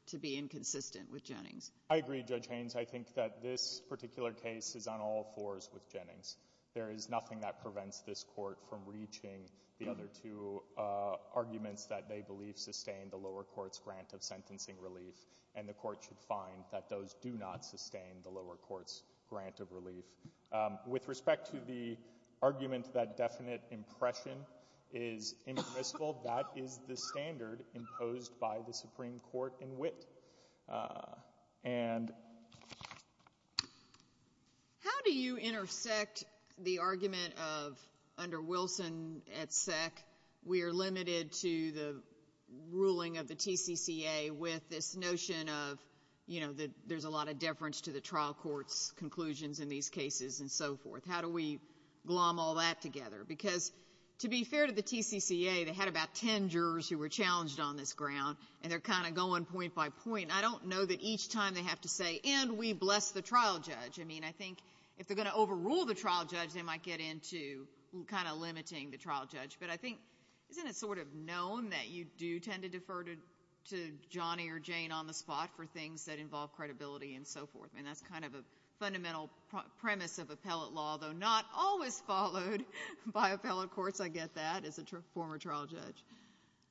to be inconsistent with Jennings. I agree, Judge Haynes. I think that this particular case is on all fours with Jennings. There is nothing that prevents this court from reaching the other two arguments that they believe sustain the lower court's grant of sentencing relief, and the court should find that those do not sustain the lower court's grant of relief. With respect to the argument that definite impression is impermissible, that is the standard imposed by the Supreme Court in wit. And How do you intersect the argument of, under Wilson at SEC, we are limited to the ruling of the TCCA with this notion of, you know, there is a lot of deference to the trial court's conclusions in these cases and so forth? How do we glom all that together? Because to be fair to the TCCA, they had about ten jurors who were challenged on this ground, and they are kind of going point by point. I don't know that each time they have to say, and we bless the trial judge. I mean, I think if they are going to overrule the trial judge, they might get into kind of limiting the trial judge. But I think, isn't it sort of known that you do tend to defer to Johnny or Jane on the spot for things that involve credibility and so forth? And that's kind of a fundamental premise of appellate law, though not always followed by appellate courts. I get that, as a former trial judge.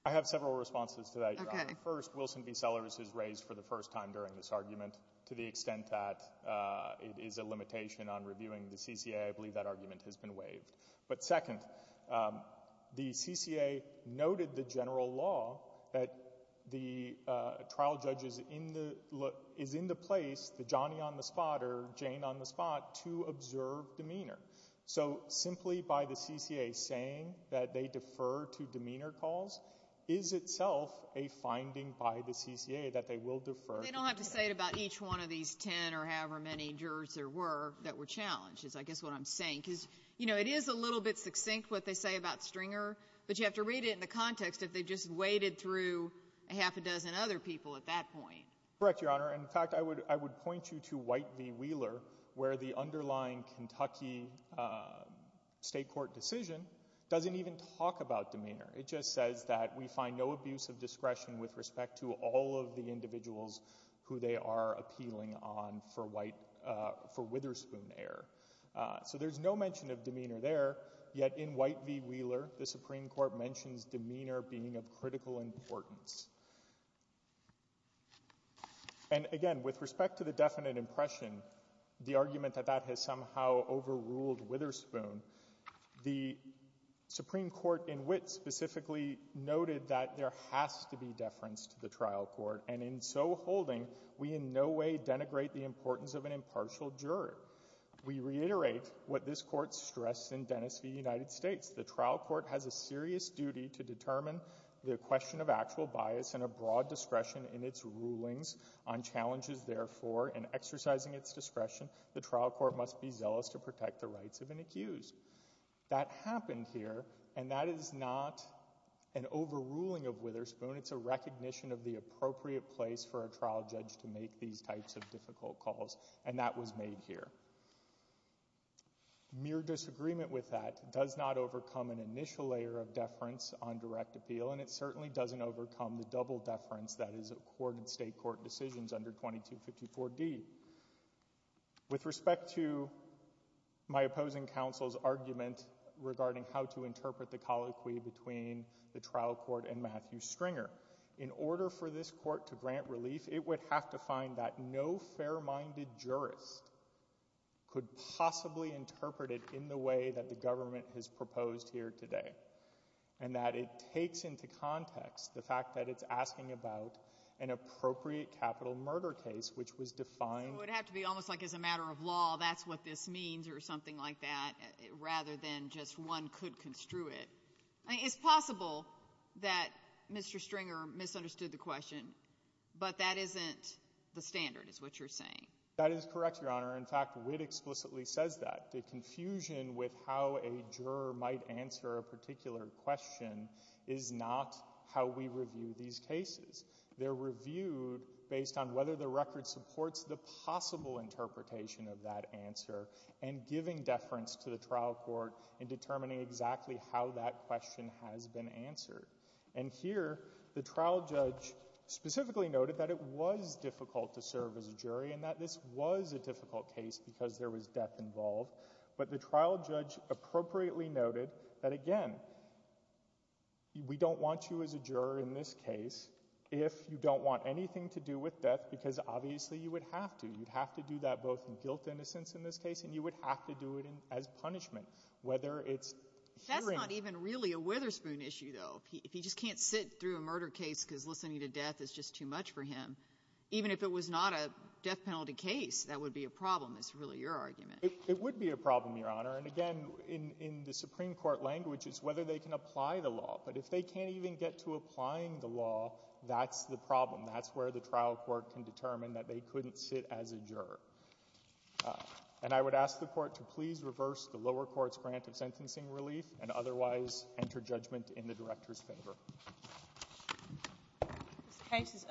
I have several responses to that, Your Honor. Okay. First, Wilson v. Sellers is raised for the first time during this argument to the extent that it is a limitation on reviewing the CCA. I believe that argument has been waived. But second, the CCA noted the general law that the trial judge is in the place, the Johnny on the spot or Jane on the spot, to observe demeanor. So simply by the CCA saying that they defer to demeanor calls is itself a finding by the CCA that they will defer to them. They don't have to say it about each one of these ten or however many jurors there were that were challenged is I guess what I'm saying. Because, you know, it is a little bit succinct what they say about Stringer, but you have to read it in the context if they just waded through a half a dozen other people at that point. Correct, Your Honor. In fact, I would point you to White v. Wheeler, where the underlying Kentucky state court decision doesn't even talk about demeanor. It just says that we find no abuse of discretion with respect to all of the individuals who they are appealing on for Witherspoon error. So there's no mention of demeanor there, yet in White v. Wheeler the Supreme Court mentions demeanor being of critical importance. And again, with respect to the definite impression, the argument that that has somehow overruled Witherspoon, the Supreme Court in Witt specifically noted that there has to be deference to the judgment of an individual, and there has to be deference to the judgment of an individual in order to integrate the importance of an impartial juror. We reiterate what this Court stressed in Dennis v. United States. The trial court has a serious duty to determine the question of actual bias and a broad discretion in its rulings on challenges, therefore, in exercising its discretion. The trial court must be zealous to protect the rights of an accused. That happened here, and that is not an overruling of Witherspoon. It's a recognition of the appropriate place for a trial judge to make these types of difficult calls, and that was made here. Mere disagreement with that does not overcome an initial layer of deference on direct appeal, and it certainly doesn't overcome the double deference that is accorded state court decisions under 2254D. With respect to my opposing counsel's argument regarding how to interpret the colloquy between the trial court and Matthew Stringer, in order for this court to grant relief, it would have to find that no fair-minded jurist could possibly interpret it in the way that the government has proposed here today, and that it takes into context the fact that it's asking about an appropriate capital murder case, which was defined— So it would have to be almost like, as a matter of law, that's what this means, or something like that, rather than just one could construe it. I mean, it's possible that Mr. Stringer misunderstood the question, but that isn't the standard, is what you're saying. That is correct, Your Honor. In fact, Witt explicitly says that. The confusion with how a juror might answer a particular question is not how we review these cases. They're reviewed based on whether the record supports the possible interpretation of that answer, and giving deference to the trial court in determining exactly how that question has been answered. And here, the trial judge specifically noted that it was difficult to serve as a jury, and that this was a difficult case because there was death involved. But the trial judge appropriately noted that, again, we don't want you as a juror in this case if you don't want anything to do with death, because obviously you would have to. You'd have to do that in both guilt and innocence in this case, and you would have to do it as punishment, whether it's hearing. That's not even really a Witherspoon issue, though. If he just can't sit through a murder case because listening to death is just too much for him, even if it was not a death penalty case, that would be a problem, is really your argument. It would be a problem, Your Honor. And again, in the Supreme Court language, it's whether they can apply the law. But if they can't even get to applying the law, that's the problem. That's where the trial court can determine that they couldn't sit as a juror. And I would ask the Court to please reverse the lower court's grant of sentencing relief and otherwise enter judgment in the Director's favor. This case is under submission. Thank you.